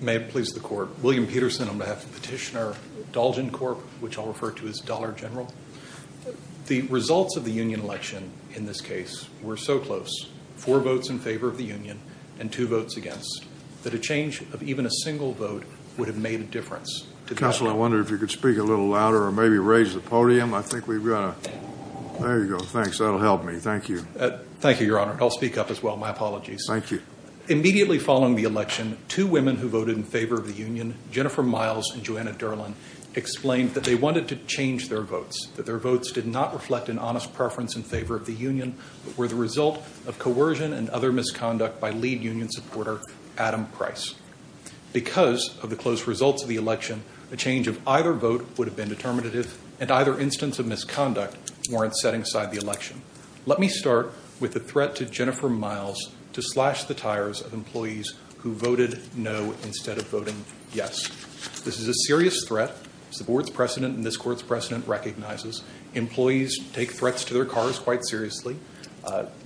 May it please the court, William Peterson on behalf of Petitioner Dalgencorp, which I'll refer to as Dollar General. The results of the union election in this case were so close, four votes in favor of the union and two votes against, that a change of even a louder or maybe raise the podium. I think we've got a, there you go. Thanks. That'll help me. Thank you. Thank you, Your Honor. I'll speak up as well. My apologies. Thank you. Immediately following the election, two women who voted in favor of the union, Jennifer Miles and Joanna Derlin, explained that they wanted to change their votes, that their votes did not reflect an honest preference in favor of the union, but were the result of coercion and other misconduct by lead union supporter, Adam Price. Because of the close results of the election, a change of either vote would have been determinative and either instance of misconduct warrant setting aside the election. Let me start with the threat to Jennifer Miles to slash the tires of employees who voted no instead of voting yes. This is a serious threat as the board's precedent and this court's precedent recognizes. Employees take threats to their cars quite seriously.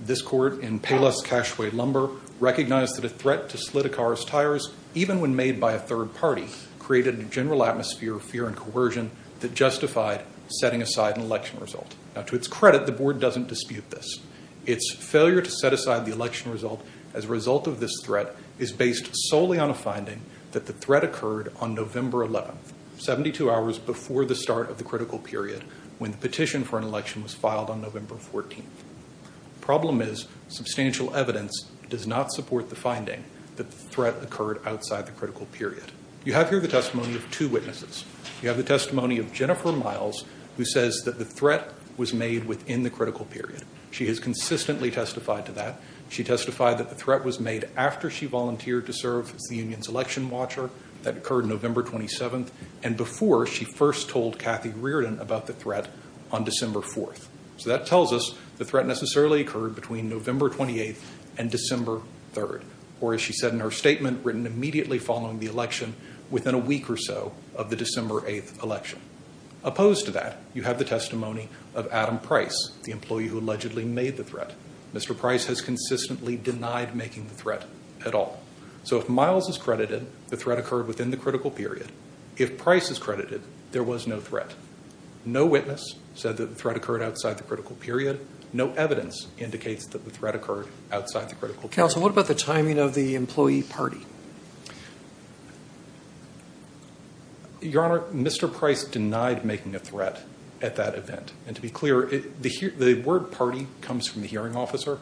This court in Payless Cacheway Lumber recognized that the threat to slit a car's tires, even when made by a third party, created a general atmosphere of fear and coercion that justified setting aside an election result. Now to its credit, the board doesn't dispute this. Its failure to set aside the election result as a result of this threat is based solely on a finding that the threat occurred on November 11th, 72 hours before the start of the critical period when the petition for an election was occurred outside the critical period. You have here the testimony of two witnesses. You have the testimony of Jennifer Miles who says that the threat was made within the critical period. She has consistently testified to that. She testified that the threat was made after she volunteered to serve as the union's election watcher. That occurred November 27th and before she first told Kathy Reardon about the threat on December 4th. So that tells us the threat necessarily occurred between November 28th and December 3rd, or as she said in her statement written immediately following the election, within a week or so of the December 8th election. Opposed to that, you have the testimony of Adam Price, the employee who allegedly made the threat. Mr. Price has consistently denied making the threat at all. So if Miles is credited, the threat occurred within the critical period. If Price is credited, there was no threat. No witness said that the threat occurred outside the critical period. No evidence indicates that the threat occurred outside the critical period. Counsel, what about the timing of the employee party? Your Honor, Mr. Price denied making a threat at that event. And to be clear, the word party comes from the hearing officer.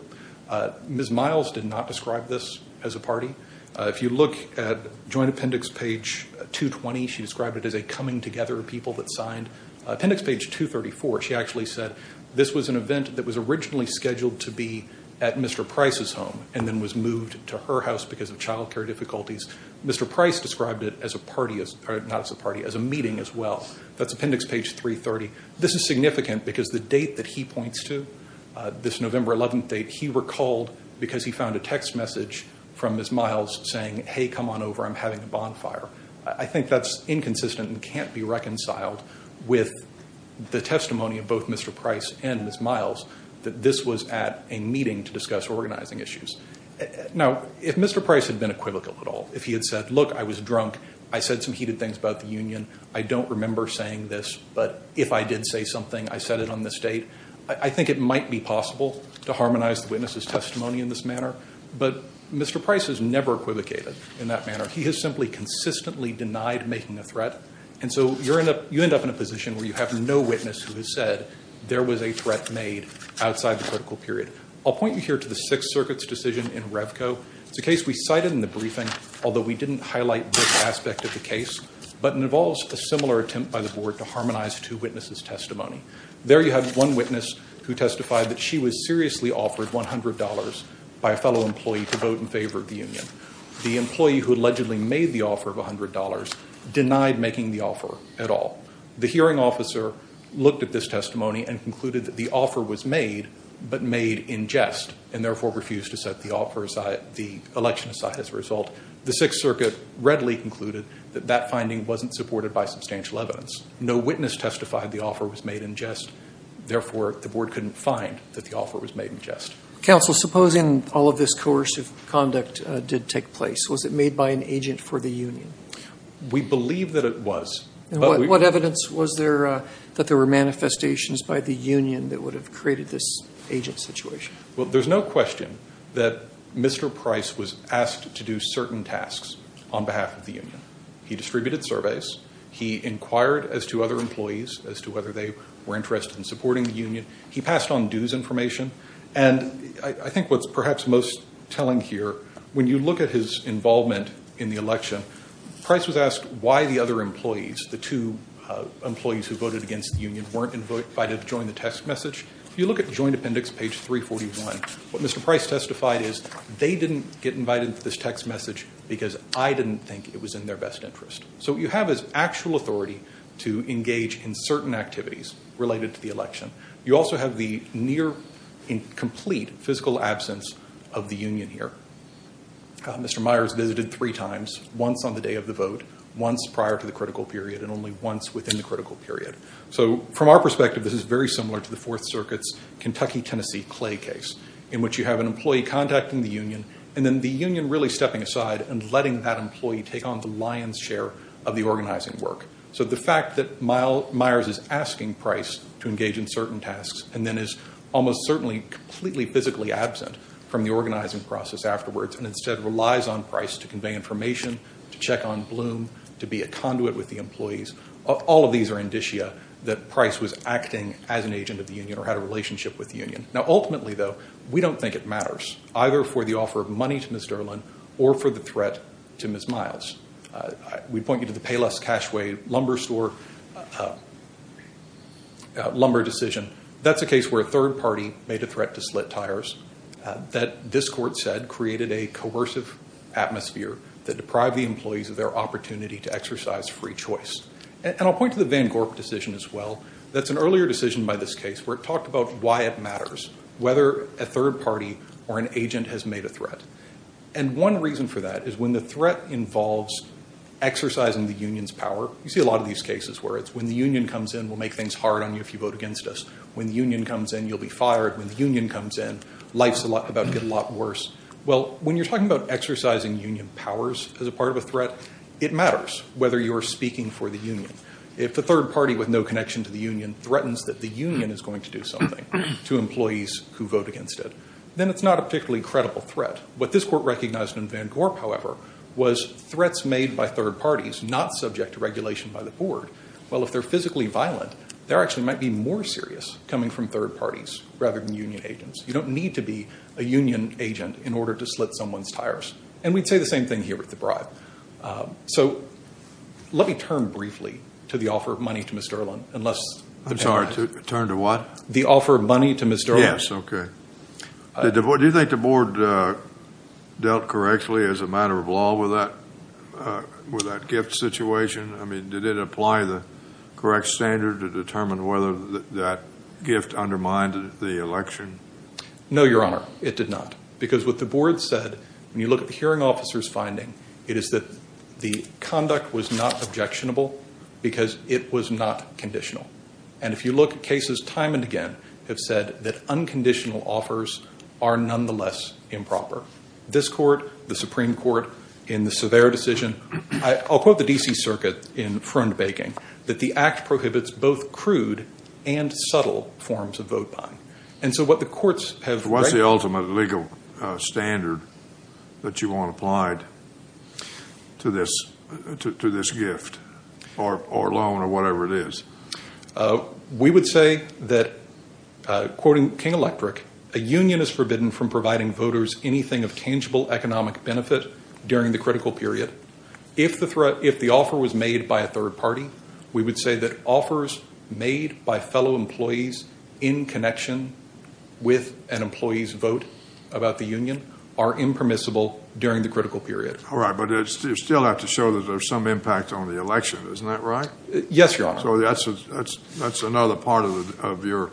Ms. Miles did not describe this as a party. If you look at joint appendix page 220, she described it as a coming together of people that signed. Appendix page 234, she actually said this was an event that was originally scheduled to be at Mr. Price's home and then was moved to her house because of child care difficulties. Mr. Price described it as a meeting as well. That's appendix page 330. This is significant because the date that he points to, this November 11th date, he recalled because he found a text message from Ms. Miles saying, hey, come on over, I'm having a bonfire. I think that's going to be reconciled with the testimony of both Mr. Price and Ms. Miles that this was at a meeting to discuss organizing issues. Now, if Mr. Price had been equivocal at all, if he had said, look, I was drunk, I said some heated things about the union, I don't remember saying this, but if I did say something, I said it on this date, I think it might be possible to harmonize the witness's testimony in this manner. But Mr. Price has never equivocated in that manner. He has simply consistently denied making a threat. And so you end up in a position where you have no witness who has said there was a threat made outside the critical period. I'll point you here to the Sixth Circuit's decision in Revco. It's a case we cited in the briefing, although we didn't highlight this aspect of the case, but it involves a similar attempt by the board to harmonize two witnesses' testimony. There you had one witness who testified that she was seriously offered $100 by a fellow employee to vote in favor of the union. The employee who allegedly made the offer of $100 denied making the offer at all. The hearing officer looked at this testimony and concluded that the offer was made, but made in jest, and therefore refused to set the election aside as a result. The Sixth Circuit readily concluded that that finding wasn't supported by substantial evidence. No witness testified the offer was made in jest. Therefore, the board couldn't find that the offer was made in jest. Counsel, supposing all of this coercive conduct did take place, was it made by an agent for the union? We believe that it was. What evidence was there that there were manifestations by the union that would have created this agent situation? Well, there's no question that Mr. Price was asked to do certain tasks on behalf of the union. He distributed surveys. He inquired as to other employees as to whether they were of interest in supporting the union. He passed on dues information. And I think what's perhaps most telling here, when you look at his involvement in the election, Price was asked why the other employees, the two employees who voted against the union, weren't invited to join the text message. If you look at Joint Appendix, page 341, what Mr. Price testified is, they didn't get invited to this text message because I didn't think it was in their best interest. So what you have is actual authority to engage in certain activities related to the election. You also have the near incomplete physical absence of the union here. Mr. Myers visited three times, once on the day of the vote, once prior to the critical period, and only once within the critical period. So from our perspective, this is very similar to the Fourth Circuit's Kentucky-Tennessee Clay case, in which you have an employee contacting the union, and then the union really stepping aside and letting that employee take on the lion's share of the organizing work. So the fact that Myers is asking Price to engage in certain tasks, and then is almost certainly completely physically absent from the organizing process afterwards, and instead relies on Price to convey information, to check on Bloom, to be a conduit with the employees, all of these are indicia that Price was acting as an agent of the union or had a relationship with the union. Now, ultimately, though, we don't think it matters, either for the offer of money to the union or for the threat to Ms. Myers. We point you to the Payless Cashway Lumber Store Lumber decision. That's a case where a third party made a threat to slit tires that this court said created a coercive atmosphere that deprived the employees of their opportunity to exercise free choice. And I'll point to the Van Gorp decision as well. That's an earlier decision by this case where it talked about why it matters whether a third party or an agent has made a threat. And one reason for that is when the threat involves exercising the union's power, you see a lot of these cases where it's when the union comes in, we'll make things hard on you if you vote against us. When the union comes in, you'll be fired. When the union comes in, life's about to get a lot worse. Well, when you're talking about exercising union powers as a part of a threat, it matters whether you're speaking for the union. If a third party with no connection to the union threatens that the union is going to do something to employees who vote against it, then it's not a particularly credible threat. What this court recognized in Van Gorp, however, was threats made by third parties not subject to regulation by the board. Well, if they're physically violent, they actually might be more serious coming from third parties rather than union agents. You don't need to be a union agent in order to slit someone's tires. And we'd say the same thing here with the bribe. So let me turn briefly to the offer of money to Ms. Derlin, unless... I'm sorry, turn to what? The offer of money to Ms. Derlin. Yes. Okay. Do you think the board dealt correctly as a matter of law with that gift situation? I mean, did it apply the correct standard to determine whether that gift undermined the election? No, Your Honor, it did not. Because what the board said, when you look at the hearing officer's finding, it is that the conduct was not objectionable because it was not conditional. And if you look at cases time and again, have said that unconditional offers are nonetheless improper. This court, the Supreme Court, in the severe decision, I'll quote the D.C. Circuit in front baking, that the act prohibits both crude and subtle forms of vote buying. And so what the courts have... What's the ultimate legal standard that you want applied to this gift or loan or whatever it is? We would say that, quoting King Electric, a union is forbidden from providing voters anything of tangible economic benefit during the critical period. If the offer was made by a third party, we would say that offers made by fellow employees in connection with an employee's vote about the union are impermissible during the critical period. All right. But you still have to show that there's some impact on the election. Isn't that right? Yes, Your Honor. So that's another part of your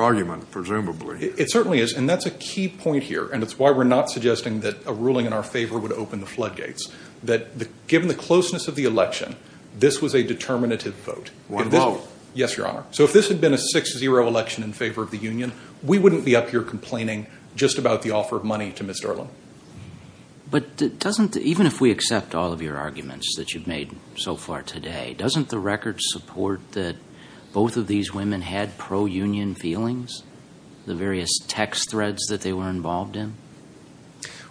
argument, presumably. It certainly is. And that's a key point here. And it's why we're not suggesting that a ruling in our favor would open the floodgates. That given the closeness of the election, this was a determinative vote. One vote. Yes, Your Honor. So if this had been a 6-0 election in favor of the union, we wouldn't be up here complaining just about the offer of money to Mr. Erlen. But doesn't, even if we accept all of your arguments that you've made so far today, doesn't the record support that both of these women had pro-union feelings, the various text threads that they were involved in?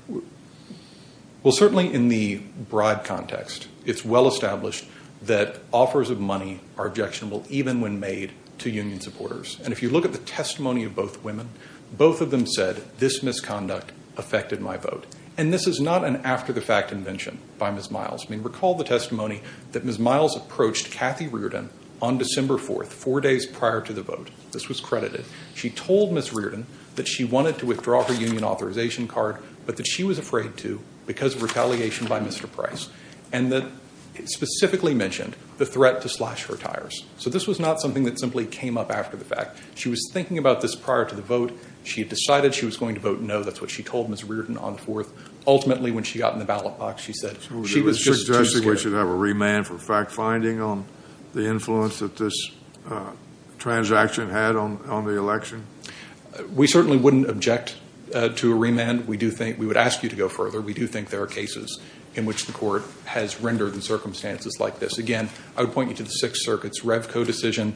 Well, certainly in the bribe context, it's well established that offers of money are objectionable even when made to union supporters. And if you look at the testimony of both women, both of them said, this misconduct affected my vote. And this is not an after-the-fact invention by Ms. Miles. I mean, recall the testimony that Ms. Miles approached Kathy Reardon on December 4th, four days prior to the vote. This was credited. She told Ms. Reardon that she wanted to withdraw her union authorization card, but that she was afraid to because of retaliation by Mr. Price. And that specifically mentioned the threat to slash her tires. So this was not something that simply came up after the fact. She was afraid. She had decided she was going to vote no. That's what she told Ms. Reardon on the 4th. Ultimately, when she got in the ballot box, she said she was just too scared. So you're suggesting we should have a remand for fact-finding on the influence that this transaction had on the election? We certainly wouldn't object to a remand. We do think, we would ask you to go further. We do think there are cases in which the court has rendered in circumstances like this. Again, I would point you to the Sixth Circuit's Revco decision.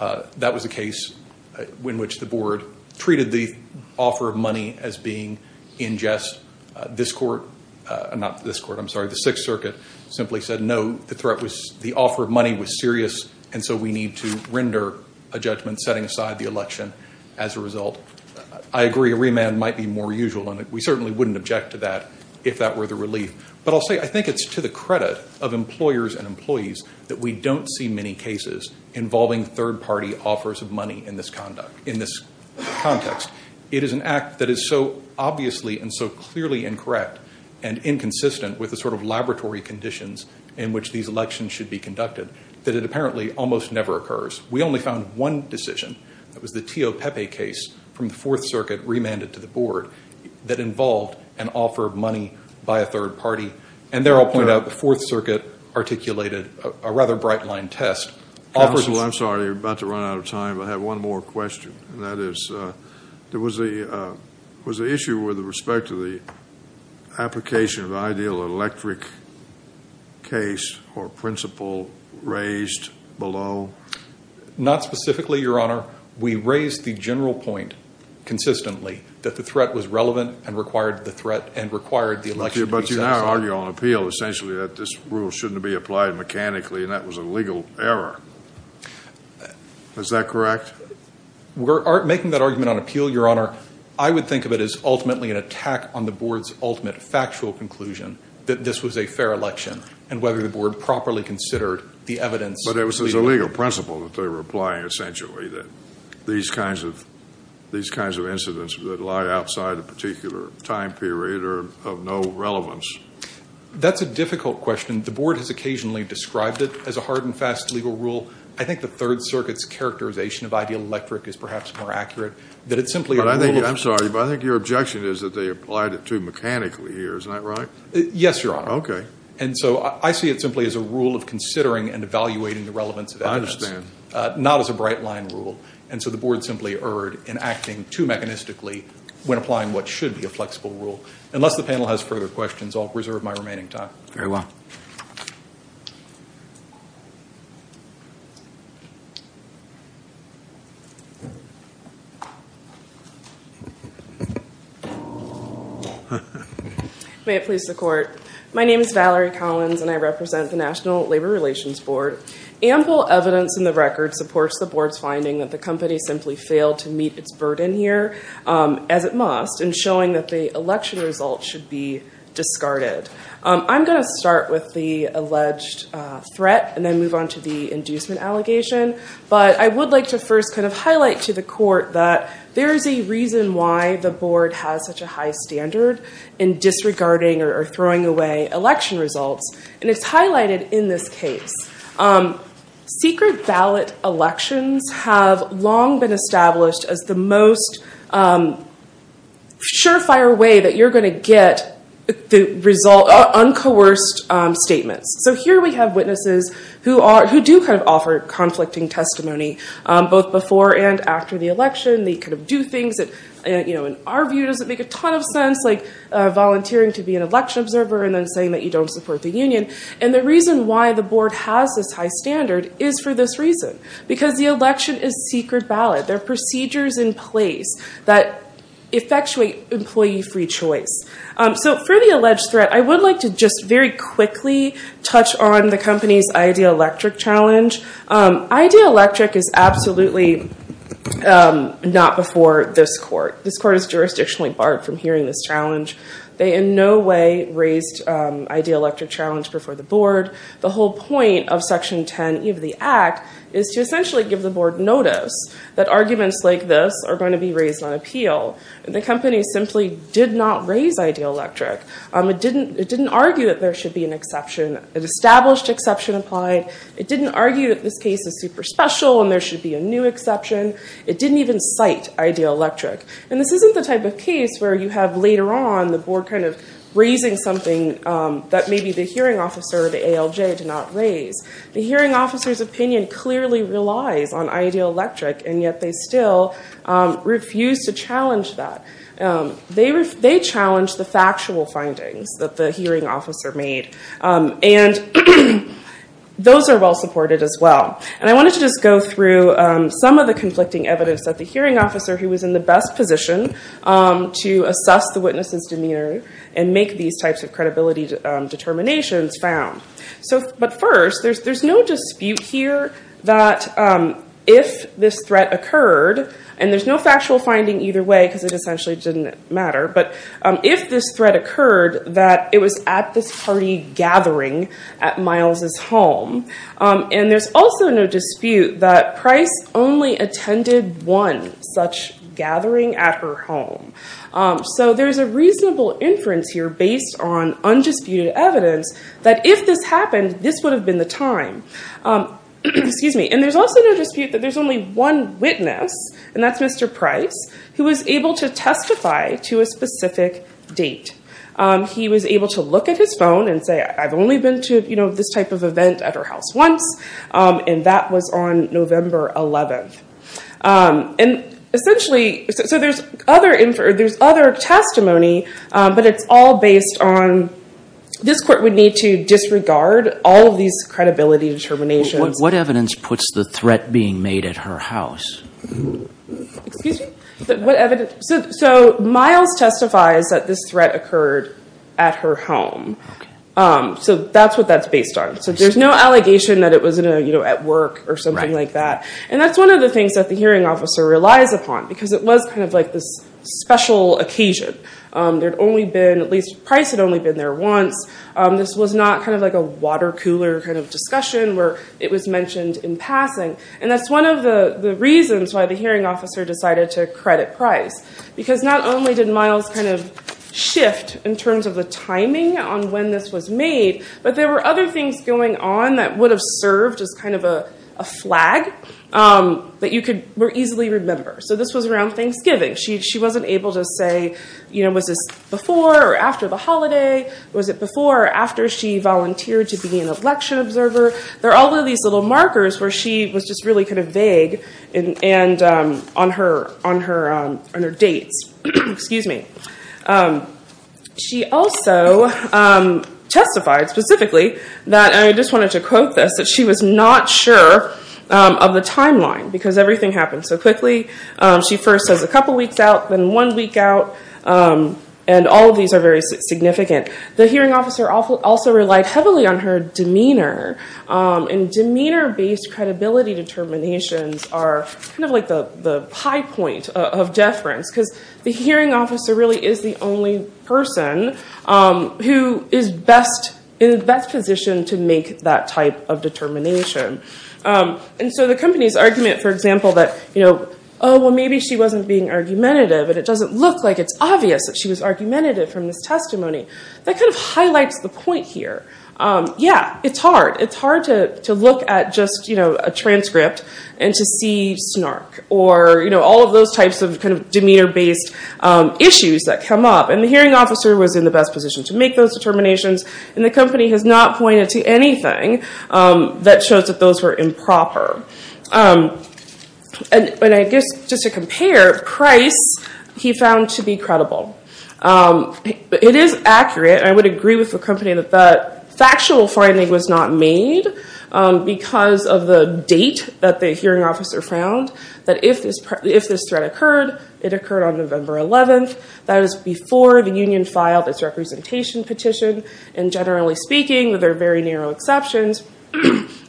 That was a case in which the board treated the offer of money as being in jest. This court, not this court, I'm sorry, the Sixth Circuit simply said no, the threat was the offer of money was serious, and so we need to render a judgment setting aside the election as a result. I agree a remand might be more usual, and we certainly wouldn't object to that if that were the relief. But I'll say I think it's to the credit of employers and employees that we don't see many cases involving third-party offers of money in this context. It is an act that is so obviously and so clearly incorrect and inconsistent with the sort of laboratory conditions in which these elections should be conducted that it apparently almost never occurs. We only found one decision, that was the Teo Pepe case from the Fourth Circuit remanded to the board that involved an offer of money by a third party, and there I'll point out the Fourth Circuit articulated a rather bright-line test. Counsel, I'm sorry, we're about to run out of time. I have one more question, and that is, there was a, was the issue with respect to the application of ideal electric case or principle raised below? Not specifically, Your Honor. We raised the general point consistently that the threat was relevant and required the threat and required the election to be successful. But you now argue on appeal essentially that this rule shouldn't be applied mechanically and that was a legal error. Is that correct? We're making that argument on appeal, Your Honor. I would think of it as ultimately an attack on the board's ultimate factual conclusion that this was a fair election and whether the board properly considered the evidence. But it was as a legal principle that they were applying essentially that these kinds of, these kinds of incidents that lie outside a particular time period are of no relevance. That's a difficult question. The board has occasionally described it as a hard and fast legal rule. I think the Third Circuit's characterization of ideal electric is perhaps more accurate, that it's simply a rule of... But I think, I'm sorry, but I think your objection is that they applied it too mechanically here. Is that right? Yes, Your Honor. Okay. And so I see it simply as a rule of considering and evaluating the relevance of evidence. I understand. Not as a bright-line rule. And so the board simply erred in acting too mechanistically when applying what should be a flexible rule. Unless the panel has further questions, I'll reserve my remaining time. Very well. May it please the Court. My name is Valerie Collins and I represent the National Labor Relations Board. Ample evidence in the record supports the board's finding that the company simply failed to meet its burden here, as it must, in showing that the election results should be discarded. I'm going to start with the alleged threat and then move on to the inducement allegation. But I would like to first kind of highlight to the Court that there is a reason why the board has such a high standard in disregarding or throwing away election results. And it's highlighted in this case. Secret ballot elections have long been established as the most surefire way that you're going to get uncoerced statements. So here we have witnesses who do kind of offer conflicting testimony both before and after the election. They kind of do things that in our view doesn't make a ton of sense, like volunteering to be an election observer and then saying that you don't support the union. And the reason why the board has this high standard is for this reason. Because the election is secret ballot. There are procedures in place that effectuate employee free choice. So for the alleged threat, I would like to just very quickly touch on the company's Ideal Electric challenge. Ideal Electric is absolutely not before this Court. This Court is jurisdictionally barred from hearing this challenge. They in no way raised Ideal Electric challenge before the board. The whole point of Section 10E of the Act is to essentially give the board notice that arguments like this are going to be raised on appeal. The company simply did not raise Ideal Electric. It didn't argue that there should be an exception. An established exception applied. It didn't argue that this case is super special and there should be a new exception. It didn't even cite Ideal Electric. And this isn't the type of case where you have later on the board raising something that maybe the hearing officer or the ALJ did not raise. The hearing officer's opinion clearly relies on Ideal Electric, and yet they still refuse to challenge that. They challenge the factual findings that the hearing officer made. And those are well supported as well. And I wanted to just go through some of the conflicting evidence that the hearing officer was in the best position to assess the witness's demeanor and make these types of credibility determinations found. But first, there's no dispute here that if this threat occurred, and there's no factual finding either way because it essentially didn't matter, but if this threat occurred, that it was at this party gathering at Miles' home. And there's also no dispute that Price only attended one such gathering at her home. So there's a reasonable inference here based on undisputed evidence that if this happened, this would have been the time. And there's also no dispute that there's only one witness, and that's Mr. Price, who was able to testify to a specific date. He was able to look at his phone and say, I've only been to this type of event at her house once, and that was on November 11th. And essentially, so there's other testimony, but it's all based on this court would need to disregard all of these credibility determinations. What evidence puts the threat being made at her house? Excuse me? So Miles testifies that this threat occurred at her home. So that's what that's based on. So there's no allegation that it was at work or something like that. And that's one of the things that the hearing officer relies upon because it was kind of like this special occasion. There'd only been, at least Price had only been there once. This was not kind of like a water cooler kind of discussion where it was mentioned in passing. And that's one of the reasons why the hearing officer decided to credit Price because not only did Miles kind of shift in terms of the timing on when this was made, but there were other things going on that would have served as kind of a flag that you could easily remember. So this was around Thanksgiving. She wasn't able to say, was this before or after the holiday? Was it before or after she volunteered to be an election observer? There are all these others where she was just really kind of vague on her dates. She also testified specifically that, and I just wanted to quote this, that she was not sure of the timeline because everything happened so quickly. She first says a couple weeks out, then one week out, and all of these are very significant. The hearing officer also relied heavily on her demeanor, and demeanor-based credibility determinations are kind of like the high point of deference because the hearing officer really is the only person who is best in the best position to make that type of determination. And so the company's argument, for example, that, oh, well, maybe she wasn't being argumentative and it doesn't look like it's obvious that she was argumentative from this testimony, that kind of highlights the point here. Yeah, it's hard. It's hard to look at just a transcript and to see snark or all of those types of kind of demeanor-based issues that come up, and the hearing officer was in the best position to make those determinations, and the company has not pointed to anything that shows that those were improper. And I guess, just to compare, Price, he found to be credible. It is accurate. I would agree with the company that that factual finding was not made because of the date that the hearing officer found, that if this threat occurred, it occurred on November 11th. That is before the union filed its representation petition, and generally speaking, there are very narrow exceptions,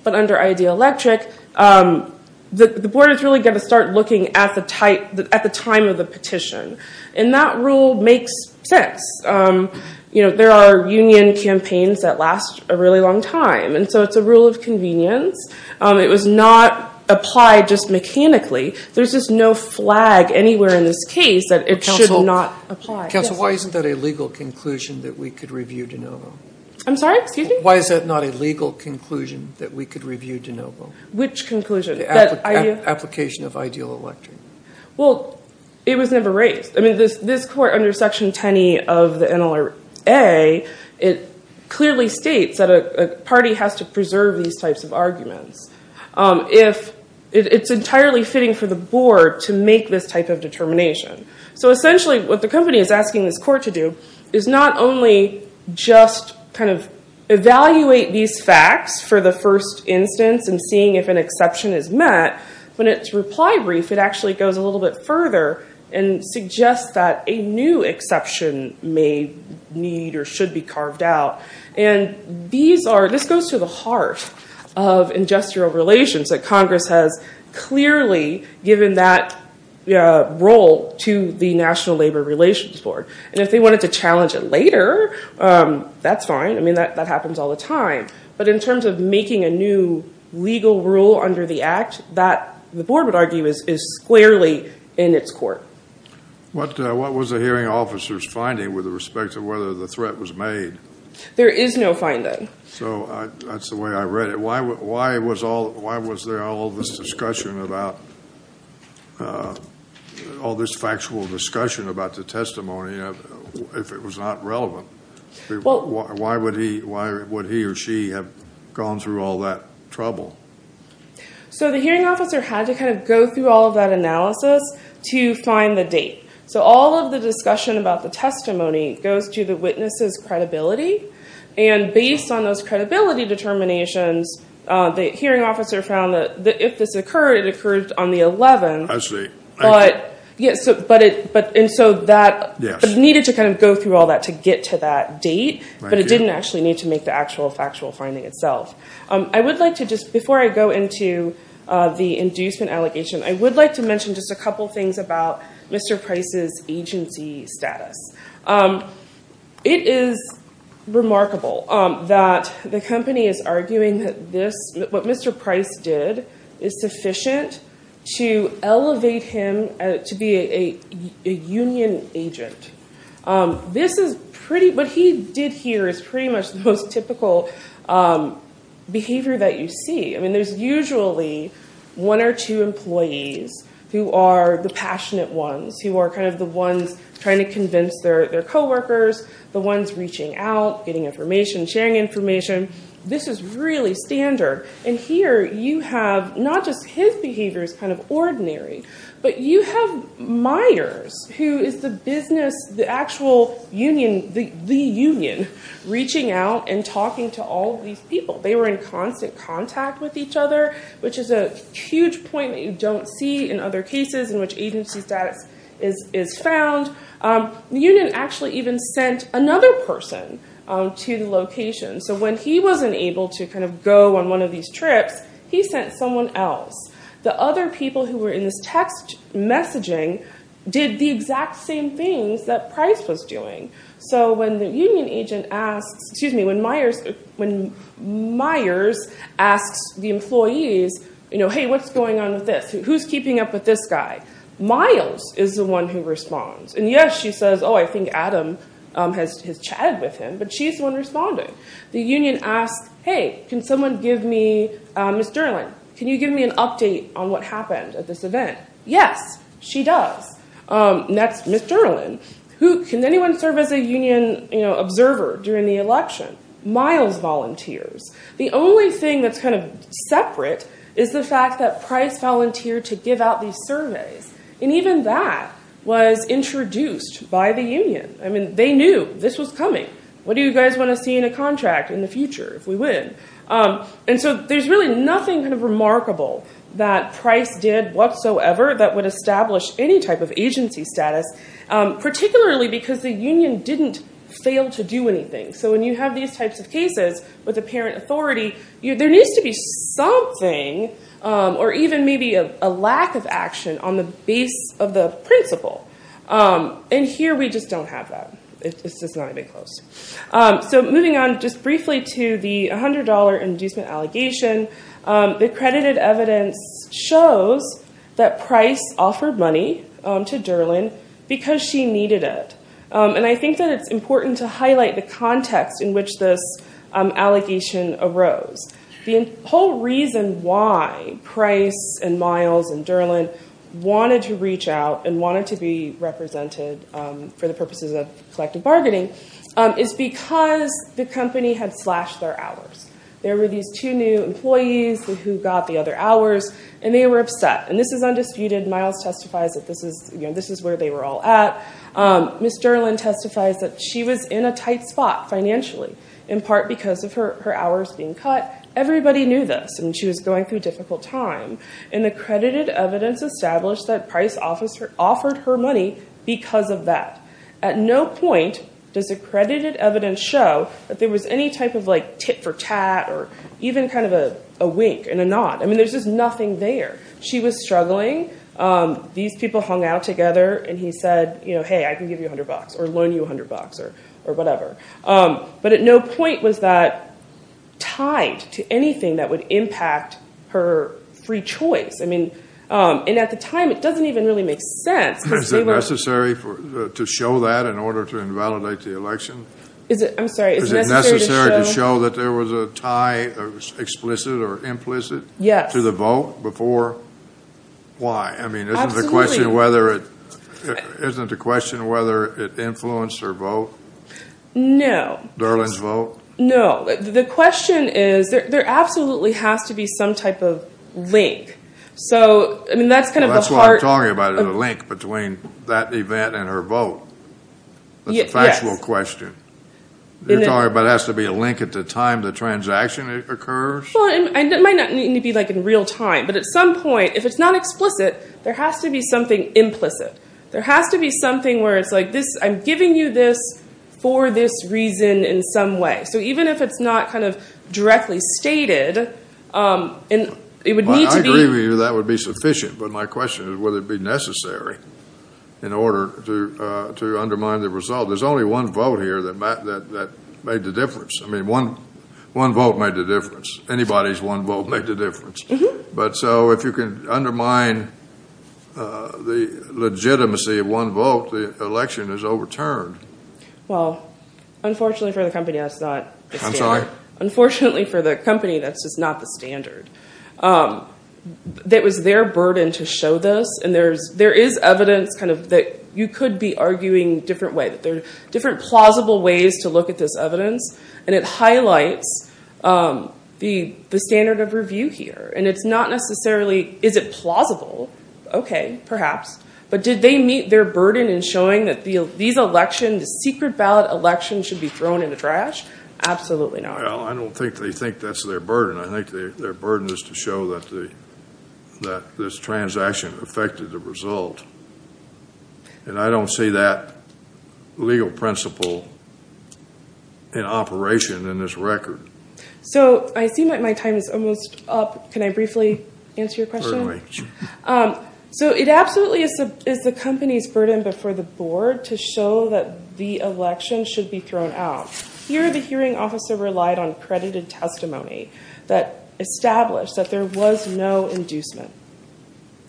but under IDEA Electric, the board is really going to start looking at the time of the petition, and that rule makes sense. You know, there are union campaigns that last a really long time, and so it's a rule of convenience. It was not applied just mechanically. There's just no flag anywhere in this case that it should not apply. Counsel, why isn't that a legal conclusion that we could review de novo? I'm sorry, excuse me? Why is that not a legal conclusion that we could review de novo? Which conclusion? Application of IDEA Electric. Well, it was never raised. I mean, this court under Section 10e of the NLRA, it clearly states that a party has to preserve these types of arguments if it's entirely fitting for the board to make this type of determination. So essentially, what the company is asking this court to do is not only just kind of evaluate these facts for the first instance and seeing if an exception is met, but in its reply brief, it actually goes a little bit further and suggests that a new exception may need or should be carved out. This goes to the heart of industrial relations. Congress has clearly given that role to the National Labor Relations Board, and if they wanted to challenge it later, that's fine. I mean, that happens all the time. But in terms of making a new legal rule under the Act, that the board would argue is squarely in its court. What was the hearing officer's finding with respect to whether the threat was made? There is no finding. So that's the way I read it. Why was there all this discussion about, all this factual discussion about the testimony if it was not relevant? Why would he or she have gone through all that trouble? So the hearing officer had to kind of go through all of that analysis to find the date. So all of the discussion about the testimony goes to the witness's credibility, and based on those credibility determinations, the hearing officer found that if this occurred, it occurred on the 11th, but it needed to kind of go through all that to get to that date, but it didn't actually need to make the actual factual finding itself. I would like to just, before I go into the inducement allegation, I would like to mention just a couple things about Mr. Price's agency status. It is remarkable that the company is arguing that what Mr. Price did is sufficient to elevate him to be a union agent. What he did here is pretty much the most typical behavior that you see. There's usually one or two employees who are the passionate ones, who are kind of the ones trying to convince their coworkers, the ones reaching out, getting information, sharing information. This is really standard, and here you have not just his behavior is kind of ordinary, but you have Myers, who is the business, the actual union, the union, reaching out and talking to all of these people. They were in constant contact with each other, which is a huge point that you don't see in other cases in which agency status is found. The union actually even sent another person to the location, so when he wasn't able to go on one of these trips, he sent someone else. The other people who were in this text messaging did the exact same things that Price was doing. When Myers asks the employees, hey, what's going on with this? Who's keeping up with this guy? Miles is the one who responds. Yes, she says, I think Adam has chatted with him, but she's the one responding. The union asks, hey, can someone give me Ms. Derlin? Can you give me an update on what happened at this event? Yes, she does. That's Ms. Derlin. Can anyone serve as a union observer during the election? Miles volunteers. The only thing that's kind of separate is the fact that Price volunteered to give out these surveys, and even that was introduced by the union. They knew this was coming. What do you guys want to see in a contract in the future if we win? There's really nothing remarkable that Price did whatsoever that would establish any type of agency status, particularly because the union didn't fail to do anything. When you have these types of cases with apparent authority, there needs to be something or even maybe a lack of action on the base of the principle. Here we just don't have that. It's just not even close. Moving on just briefly to the $100 inducement allegation, the accredited evidence shows that Price offered money to Derlin because she needed it. I think that it's important to highlight the context in which this allegation arose. The whole reason why Price and Miles and Derlin wanted to reach out and wanted to be represented for the purposes of collective targeting is because the company had slashed their hours. There were these two new employees who got the other hours, and they were upset. This is undisputed. Miles testifies that this is where they were all at. Ms. Derlin testifies that she was in a tight spot financially, in part because of her hours being cut. Everybody knew this, and she was going through a difficult time. The accredited evidence established that Price offered her money because of that. At no point does accredited evidence show that there was any type of tit for tat or even a wink and a nod. There's just nothing there. She was struggling. These people hung out together, and he said, hey, I can give you $100 or loan you $100 or whatever. At no point was that tied to anything that would impact her free choice. At the time, it doesn't even really make sense. Is it necessary to show that in order to invalidate the election? Is it necessary to show that there was a tie, explicit or implicit, to the vote before? Why? Isn't the question whether it influenced her vote? No. Derlin's vote? No. The question is there absolutely has to be some type of link. That's what I'm talking about, a link between that event and her vote. It's a factual question. You're talking about there has to be a link at the time the transaction occurs? It might not need to be in real time, but at some point, if it's not explicit, there has to be something implicit. There has to be something where it's like, I'm giving you this for this reason in some way. Even if it's not kind of directly stated, it would need to be... I agree with you, that would be sufficient. But my question is, would it be necessary in order to undermine the result? There's only one vote here that made the difference. I mean, one vote made the difference. Anybody's one vote made the difference. But so if you can undermine the legitimacy of one vote, the election is overturned. Well, unfortunately for the company, that's just not the standard. It was their burden to show this. There is evidence that you could be arguing different ways, different plausible ways to look at this evidence. It highlights the standard of review here. It's not necessarily, is it plausible? Okay, perhaps. But did they meet their burden in showing that these elections and the secret ballot elections should be thrown in the trash? Absolutely not. Well, I don't think they think that's their burden. I think their burden is to show that this transaction affected the result. And I don't see that legal principle in operation in this record. So I see my time is almost up. Can I briefly answer your question? So it absolutely is the company's burden before the board to show that the election should be thrown out. Here, the hearing officer relied on credited testimony that established that there was no inducement.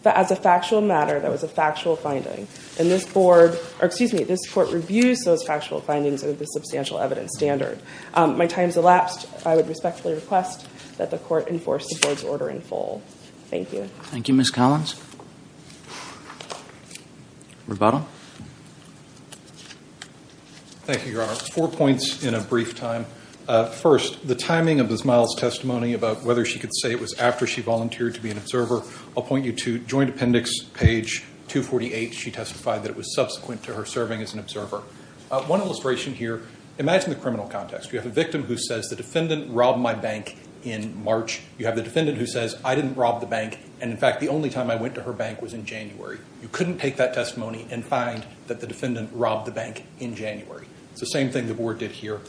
That as a factual matter, that was a factual finding. And this board, or excuse me, this court reviews those factual findings of the substantial evidence standard. My time's elapsed. I would respectfully request that the court enforce the board's rule. Thank you. Thank you, Ms. Collins. Thank you, Your Honor. Four points in a brief time. First, the timing of Ms. Miles' testimony about whether she could say it was after she volunteered to be an observer. I'll point you to joint appendix page 248. She testified that it was subsequent to her serving as an observer. One illustration here, imagine the criminal context. You have a victim who says the defendant robbed my bank in March. You have the defendant who says, I didn't rob the bank. And in fact, the only time I went to her bank was in January. You couldn't take that testimony and find that the defendant robbed the bank in January. It's the same thing the board did here.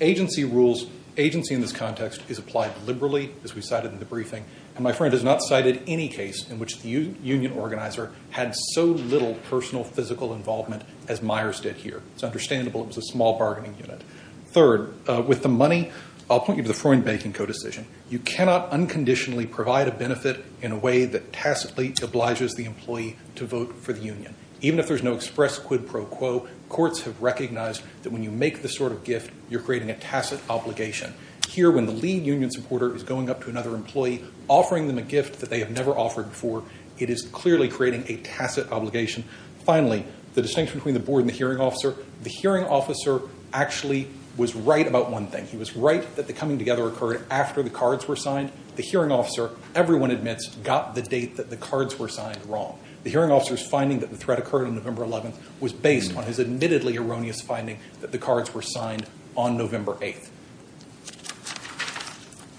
Agency rules, agency in this context is applied liberally, as we cited in the briefing. And my friend has not cited any case in which the union organizer had so little personal physical involvement as Myers did here. It's understandable it was a small bargaining unit. Third, with the money, I'll point you to the Freund Banking co-decision. You cannot unconditionally provide a benefit in a way that tacitly obliges the employee to vote for the union. Even if there's no express quid pro quo, courts have recognized that when you make this sort of gift, you're creating a tacit obligation. Here, when the lead union supporter is going up to another employee, offering them a gift that they have never offered before, it is clearly creating a tacit obligation. Finally, the distinction between the board and the hearing officer, the hearing officer actually was right about one thing. He was right that the coming together occurred after the cards were signed. The hearing officer, everyone admits, got the date that the cards were signed wrong. The hearing officer's finding that the threat occurred on November 11th was based on his admittedly erroneous finding that the cards were signed on November 8th.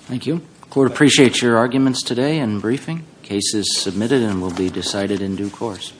Thank you. The court appreciates your arguments today and briefing. The case is submitted and will be decided in due course.